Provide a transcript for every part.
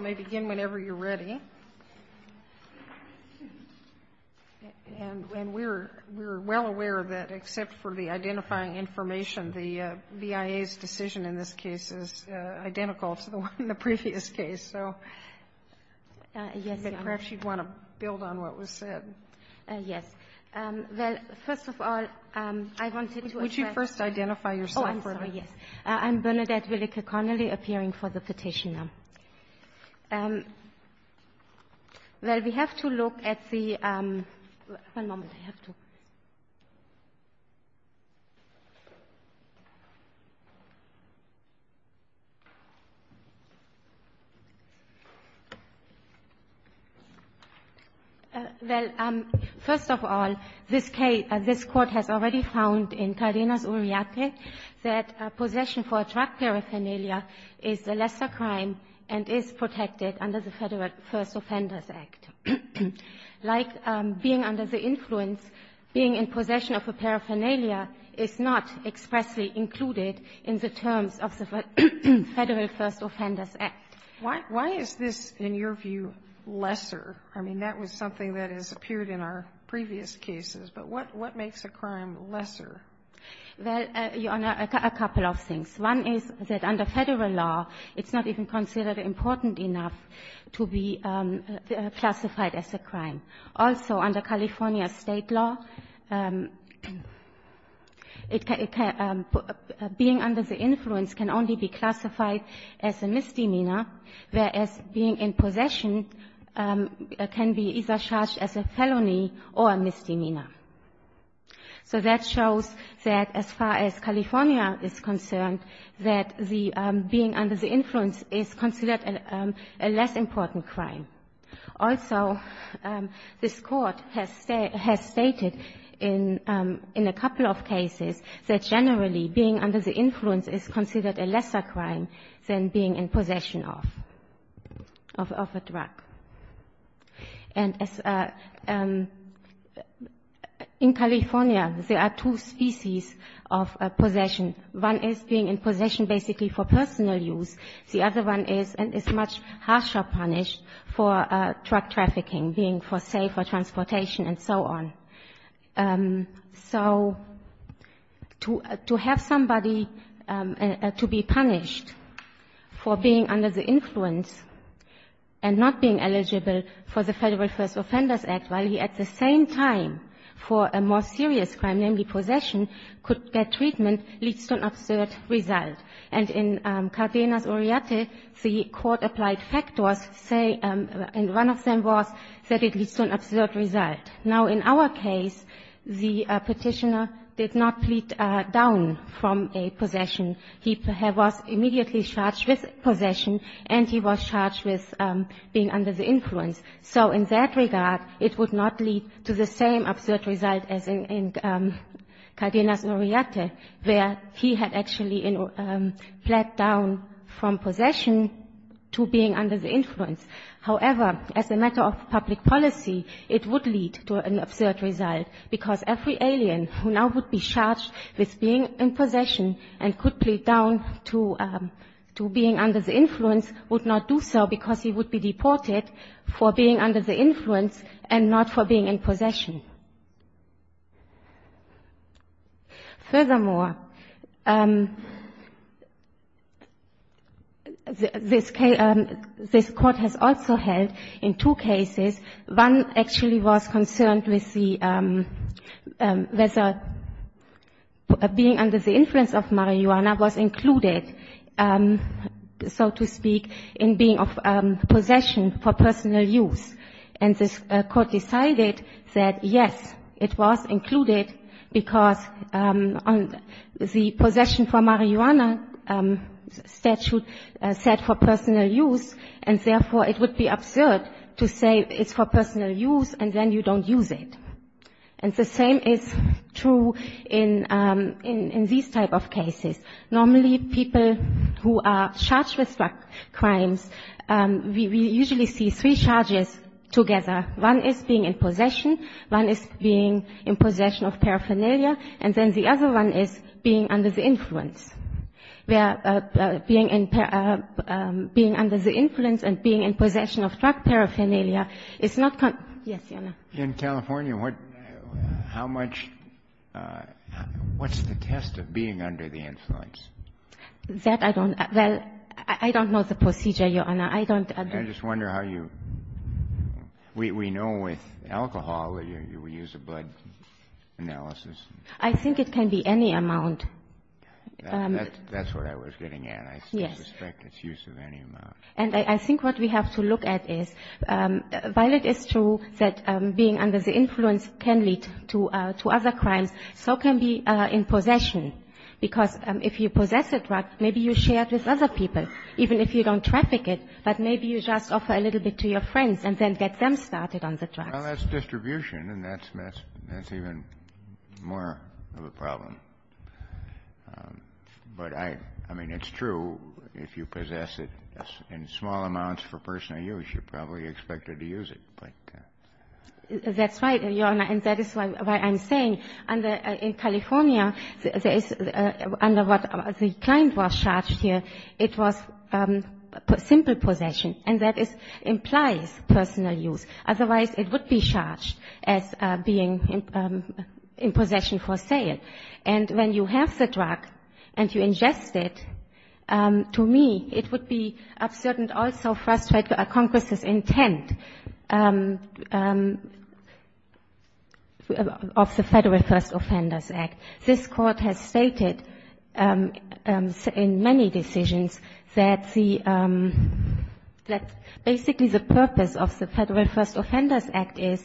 may begin whenever you're ready. And we're well aware that, except for the identifying information, the BIA's decision in this case is identical to the one in the previous case, so. Yes, Your Honor. But perhaps you'd want to build on what was said. Yes. Well, first of all, I wanted to address. Would you first identify yourself? Oh, I'm sorry, yes. I'm Bernadette Willeke-Connolly, appearing for the Petitioner. Well, we have to look at the — one moment, I have to — well, first of all, this Court has already found in Cardenas-Urriate that possession for a drug paraphernalia is a lesser crime and is protected under the Federal First Offenders Act. Like being under the influence, being in possession of a paraphernalia is not expressly included in the terms of the Federal First Offenders Act. Why is this, in your view, lesser? I mean, that was something that has appeared in our previous cases, but what makes a crime lesser? Well, Your Honor, a couple of things. One is that under Federal law, it's not even considered important enough to be classified as a crime. Also, under California State law, it can — being under the influence can only be classified as a misdemeanor, whereas being in possession can be either charged as a felony or a misdemeanor. So that shows that as far as California is concerned, that the being under the influence is considered a less important crime. Also, this Court has stated in a couple of cases that generally being under the influence is considered a lesser crime than being in possession of a drug. And in California, there are two species of possession. One is being in possession basically for personal use. The other one is — and is much harsher punish for drug trafficking, being for, say, for transportation and so on. So to have somebody to be punished for being under the influence and not being eligible for the Federal First Offenders Act while he at the same time for a more serious crime, namely possession, could get treatment leads to an absurd result. And in Cardenas-Uriarte, the court-applied factors say — and one of them was that it leads to an absurd result. Now, in our case, the Petitioner did not plead down from a possession. He was immediately charged with possession, and he was charged with being under the influence. So in that regard, it would not lead to the same absurd result as in Cardenas-Uriarte, where he had actually pled down from possession to being under the influence. However, as a matter of public policy, it would lead to an absurd result, because every alien who now would be charged with being in possession and could plead down to being under the influence would not do so because he would be deported for being under the influence and not for being in possession. Furthermore, this case — this Court has also held in two cases. One actually was concerned with the — whether being under the influence of marijuana was included, so to speak, in being of possession for personal use. And this Court decided that, yes, it was included because the possession for marijuana statute said for personal use, and therefore, it would be absurd to say it's for personal use and then you don't use it. And the same is true in — in these type of cases. Normally, people who are charged with drug crimes, we usually see three charges together. One is being in possession. One is being in possession of paraphernalia. And then the other one is being under the influence, where being in — being under the influence and being in possession of drug paraphernalia is not — yes, Your Honor. In California, what — how much — what's the test of being under the influence? That I don't — well, I don't know the procedure, Your Honor. I don't — I just wonder how you — we know with alcohol, we use a blood analysis. I think it can be any amount. That's what I was getting at. Yes. I suspect it's use of any amount. And I think what we have to look at is, while it is true that being under the influence can lead to other crimes, so can be in possession. Because if you possess a drug, maybe you share it with other people, even if you don't traffic it, but maybe you just offer a little bit to your friends and then get them started on the drugs. Well, that's distribution, and that's — that's even more of a problem. But I — I mean, it's true, if you possess it in small amounts for personal use, you're probably expected to use it, but — That's right, Your Honor, and that is why I'm saying, under — in California, there is — under what the client was charged here, it was simple possession, and that is — implies personal use. Otherwise, it would be charged as being in possession for sale. And when you have the drug and you ingest it, to me, it would be absurd and also frustrate Congress's intent of the Federal First Offenders Act. This Court has stated in many decisions that the — that basically the purpose of the Federal First Offenders Act is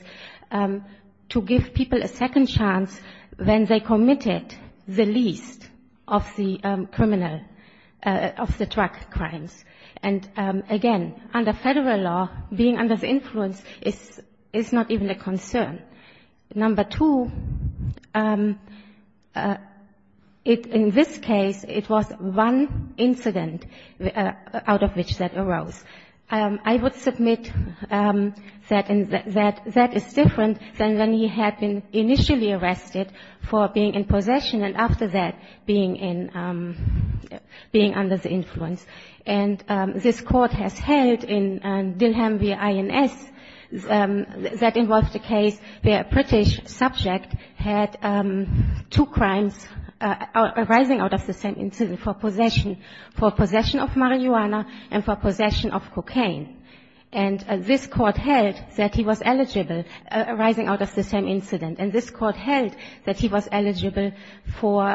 to give people a second chance when they committed the least of the criminal — of the drug crimes. And again, under Federal law, being under the influence is — is not even a concern. Number two, it — in this case, it was one incident out of which that arose. I would submit that — that that is different than when he had been initially arrested for being in possession and after that being in — being under the influence. And this Court has held in — in Dillheim v. INS that involved a case where a British subject had two crimes arising out of the same incident for possession — for possession of marijuana and for possession of cocaine. And this Court held that he was eligible, arising out of the same incident. And this Court held that he was eligible for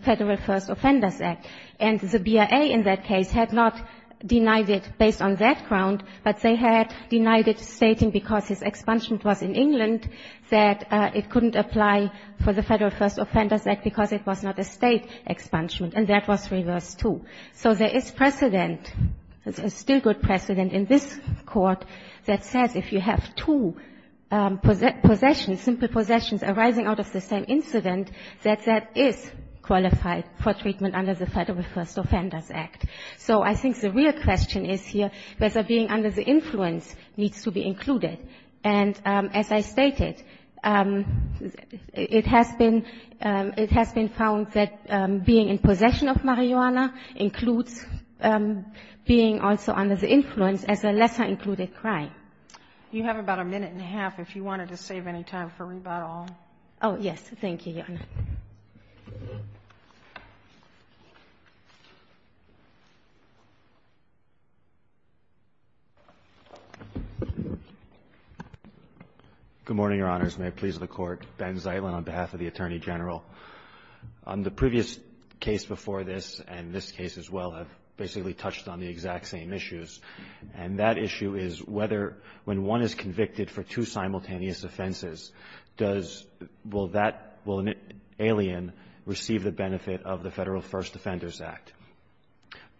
Federal First Offenders Act. And the BIA in that case had not denied it based on that ground, but they had denied it stating because his expungement was in England, that it couldn't apply for the Federal First Offenders Act because it was not a State expungement. And that was reversed, too. So there is precedent, still good precedent, in this Court that says if you have two possessions, simple possessions arising out of the same incident, that that is qualified for treatment under the Federal First Offenders Act. So I think the real question is here whether being under the influence needs to be included. And as I stated, it has been — it has been found that being in possession of marijuana includes being also under the influence as a lesser-included crime. You have about a minute and a half if you wanted to save any time for rebuttal. Oh, yes. Thank you, Your Honor. Good morning, Your Honors. May it please the Court. Ben Zeitlin on behalf of the Attorney General. The previous case before this and this case as well have basically touched on the exact same issues. And that issue is whether when one is convicted for two simultaneous offenses, does — will that — will an alien receive the benefit of the Federal First Offenders Act.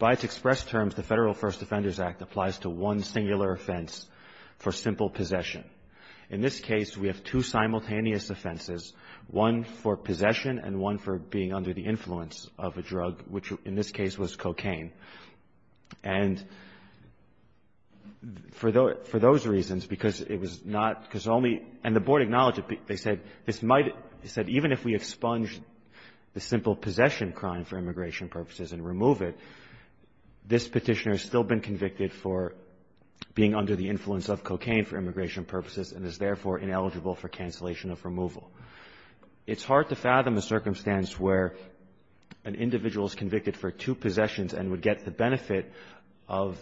By its express terms, the Federal First Offenders Act applies to one singular offense for simple possession. In this case, we have two simultaneous offenses, one for possession and one for being under the influence of a drug, which in this case was cocaine. And for those — for those reasons, because it was not — because only — and the Board acknowledged it. They said this might — they said even if we expunge the simple possession crime for immigration purposes and remove it, this Petitioner has still been convicted for being under the influence of cocaine for immigration purposes and is, therefore, ineligible for cancellation of removal. It's hard to fathom a circumstance where an individual is convicted for two possessions and would get the benefit of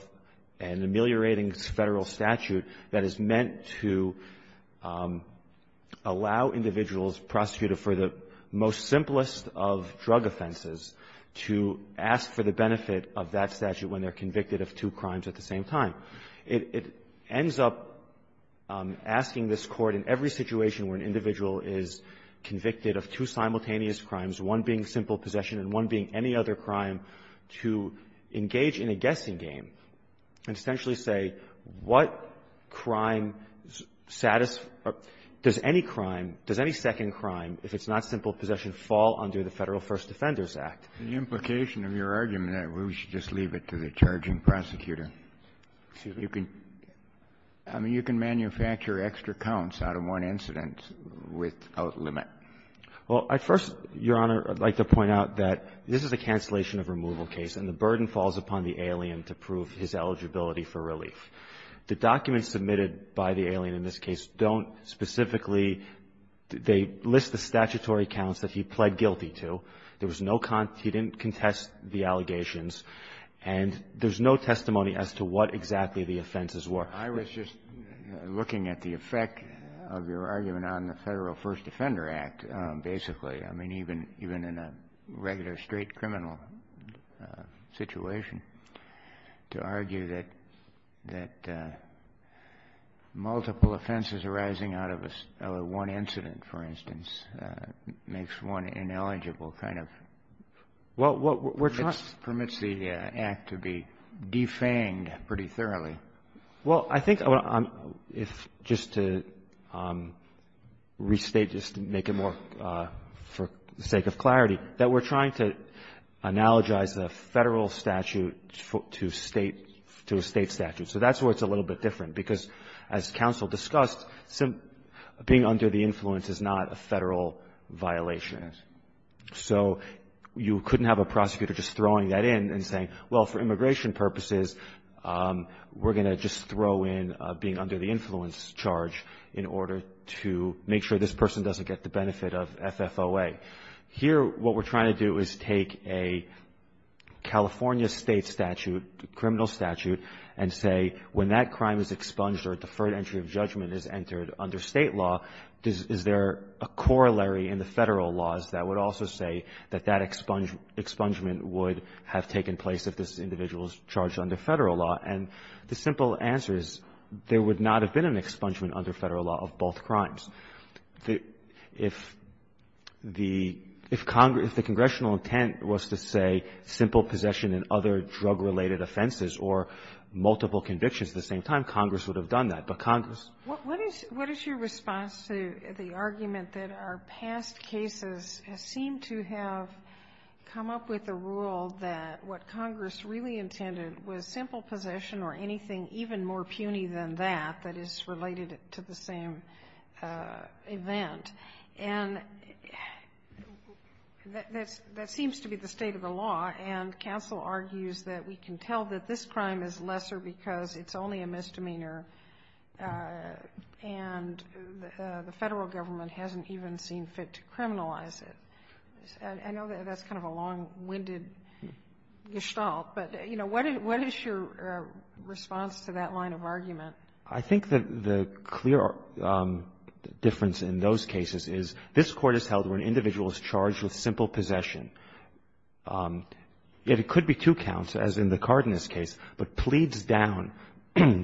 an ameliorating Federal statute that is meant to allow individuals prosecuted for the most simplest of drug offenses to ask for the benefit of that statute when they're convicted of two crimes at the same time. It ends up asking this Court in every situation where an individual is convicted of two simultaneous crimes, one being simple possession and one being any other crime, to engage in a guessing game and essentially say what crime — does any crime, does any second crime, if it's not simple possession, fall under the Federal First Defenders Act? The implication of your argument, we should just leave it to the charging prosecutor. I mean, you can manufacture extra counts out of one incident without limit. Well, at first, Your Honor, I'd like to point out that this is a cancellation of removal case and the burden falls upon the alien to prove his eligibility for relief. The documents submitted by the alien in this case don't specifically — they list the statutory counts that he pled guilty to. There was no — he didn't contest the allegations. And there's no testimony as to what exactly the offenses were. I was just looking at the effect of your argument on the Federal First Defender Act, basically. I mean, even in a regular straight criminal situation, to argue that multiple offenses arising out of one incident, for instance, makes one ineligible, kind of — Well, we're trying — It permits the act to be defanged pretty thoroughly. Well, I think if — just to restate, just to make it more for the sake of clarity, that we're trying to analogize a Federal statute to State — to a State statute. So that's where it's a little bit different, because as counsel discussed, being under the influence is not a Federal violation. So you couldn't have a prosecutor just throwing that in and saying, well, for immigration purposes, we're going to just throw in being under the influence charge in order to make sure this person doesn't get the benefit of FFOA. Here, what we're trying to do is take a California State statute, a criminal statute, and say, when that crime is expunged or a deferred entry of judgment is entered under State law, is there a corollary in the Federal laws that would also say that that expungement would have taken place if this individual was charged under Federal law? And the simple answer is there would not have been an expungement under Federal law of both crimes. If the — if Congress — if the congressional intent was to say simple possession in other drug-related offenses or multiple convictions at the same time, Congress would have done that. But Congress — Sotomayor, what is your response to the argument that our past cases seem to have come up with a rule that what Congress really intended was simple possession or anything even more puny than that, that is related to the same event? And that seems to be the state of the law, and counsel argues that we can tell that this crime is lesser because it's only a misdemeanor, and the Federal government hasn't even seen fit to criminalize it. I know that's kind of a long-winded gestalt, but, you know, what is your response to that line of argument? I think that the clear difference in those cases is this Court has held where an individual is charged with simple possession, yet it could be two counts, as in the Cardenas case, but pleads down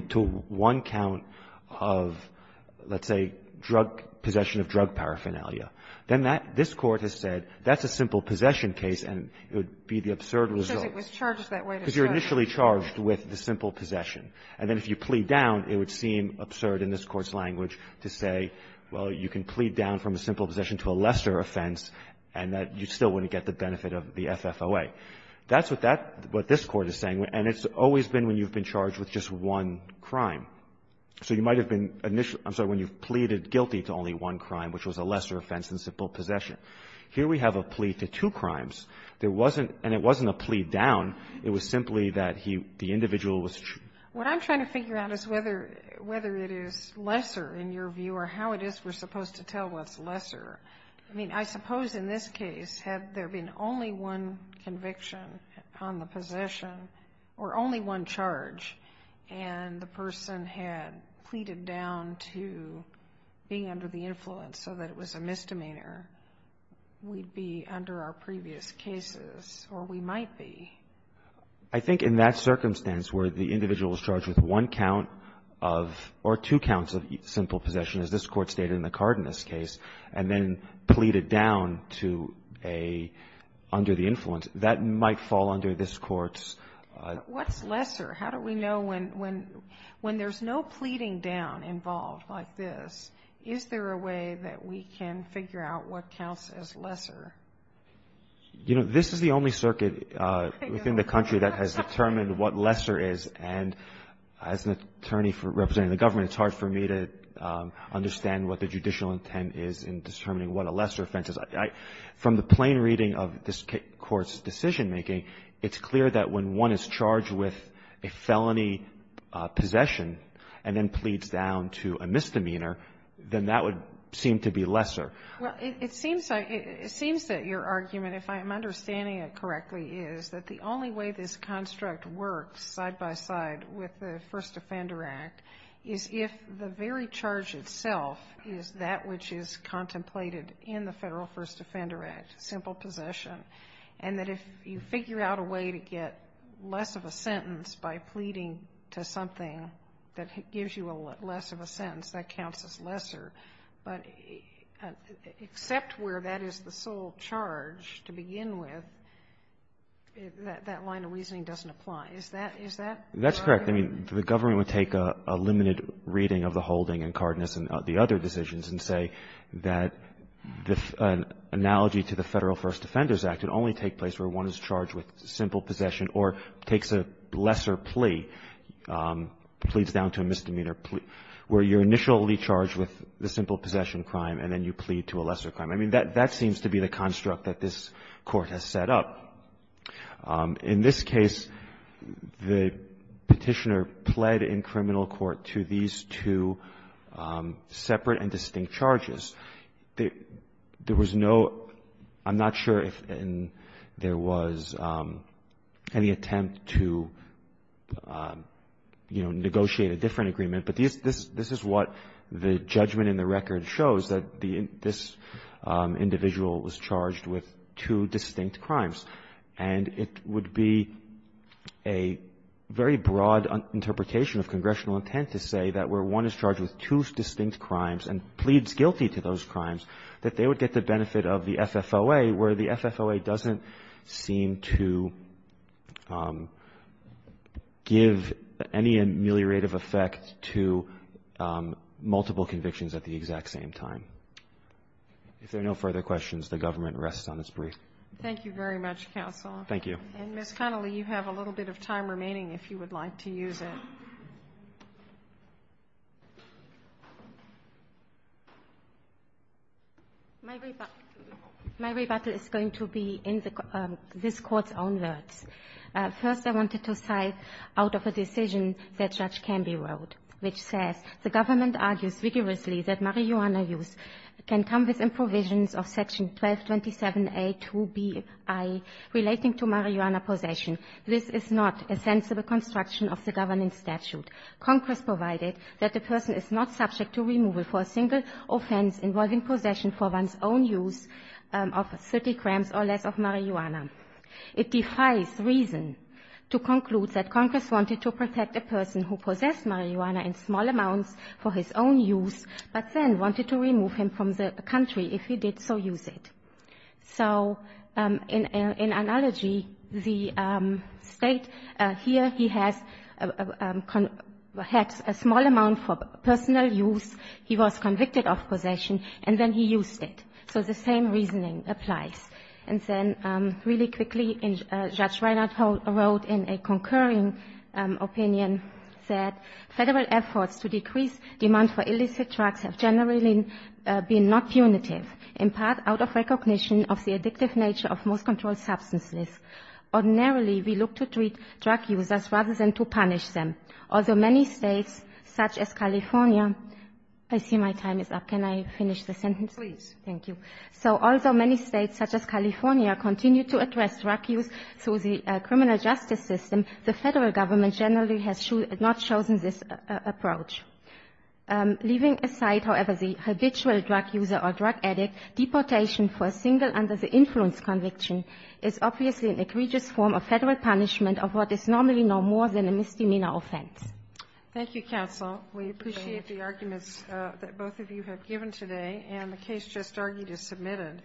to one count of, let's say, drug — possession of drug paraphernalia. Then that — this Court has said that's a simple possession case, and it would be the absurd result. Because it was charged that way to start. Because you're initially charged with the simple possession. And then if you plead down, it would seem absurd in this Court's language to say, well, you can plead down from a simple possession to a lesser offense, and that you still wouldn't get the benefit of the FFOA. That's what that — what this Court is saying, and it's always been when you've been charged with just one crime. So you might have been — I'm sorry, when you've pleaded guilty to only one crime, which was a lesser offense than simple possession. Here we have a plea to two crimes. There wasn't — and it wasn't a plea down. It was simply that he — the individual was — What I'm trying to figure out is whether — whether it is lesser in your view, or how it is we're supposed to tell what's lesser. I mean, I suppose in this case, had there been only one conviction on the possession, or only one charge, and the person had pleaded down to being under the influence so that it was a misdemeanor, we'd be under our previous cases, or we might be. I think in that circumstance where the individual is charged with one count of — or two counts, as stated in the Cardenas case, and then pleaded down to a — under the influence, that might fall under this Court's — What's lesser? How do we know when — when there's no pleading down involved like this, is there a way that we can figure out what counts as lesser? You know, this is the only circuit within the country that has determined what lesser is, and as an attorney representing the government, it's hard for me to understand what the judicial intent is in determining what a lesser offense is. From the plain reading of this Court's decision-making, it's clear that when one is charged with a felony possession and then pleads down to a misdemeanor, then that would seem to be lesser. Well, it seems like — it seems that your argument, if I'm understanding it correctly, is that the only way this construct works side by side with the First Offender Act is if the very charge itself is that which is contemplated in the Federal First Offender Act, simple possession, and that if you figure out a way to get less of a sentence by pleading to something that gives you less of a sentence, that counts as lesser. But except where that is the sole charge to begin with, that line of reasoning doesn't apply. Is that right? That's correct. I mean, the government would take a limited reading of the holding in Cardenas and the other decisions and say that an analogy to the Federal First Offender Act would only take place where one is charged with simple possession or takes a lesser plea, pleads down to a misdemeanor, where you're initially charged with the simple possession crime and then you plead to a lesser crime. I mean, that seems to be the construct that this Court has set up. In this case, the Petitioner pled in criminal court to these two separate and distinct charges. There was no – I'm not sure if there was any attempt to, you know, negotiate a different agreement, but this is what the judgment in the record shows, that this individual was charged with two distinct crimes. And it would be a very broad interpretation of congressional intent to say that where one is charged with two distinct crimes and pleads guilty to those crimes, that they would get the benefit of the FFOA, where the FFOA doesn't seem to give any ameliorative effect to multiple convictions at the exact same time. If there are no further questions, the government rests on its brief. Thank you very much, counsel. Thank you. And, Ms. Connolly, you have a little bit of time remaining if you would like to use it. My rebuttal is going to be in the – this Court's own words. First, I wanted to cite out of a decision that Judge Canby wrote, which says the government argues vigorously that marijuana use can come within provisions of Section 1227A2Bi relating to marijuana possession. This is not a sensible construction of the governance statute. Congress provided that the person is not subject to removal for a single offense involving possession for one's own use of 30 grams or less of marijuana. It defies reason to conclude that Congress wanted to protect a person who possessed marijuana in small amounts for his own use, but then wanted to remove him from the country if he did so use it. So in analogy, the State here, he has a – had a small amount for personal use. He was convicted of possession, and then he used it. So the same reasoning applies. And then really quickly, Judge Reinert wrote in a concurring opinion that Federal efforts to decrease demand for illicit drugs have generally been not punitive, in part out of recognition of the addictive nature of most controlled substances. Ordinarily, we look to treat drug users rather than to punish them. Although many States such as California – I see my time is up. Can I finish the sentence? Please. Thank you. So although many States such as California continue to address drug use through the criminal justice system, the Federal Government generally has not chosen this approach. Leaving aside, however, the habitual drug user or drug addict, deportation for a single under the influence conviction is obviously an egregious form of Federal punishment of what is normally no more than a misdemeanor offense. Thank you, counsel. We appreciate the arguments that both of you have given today, and the case just argued is submitted.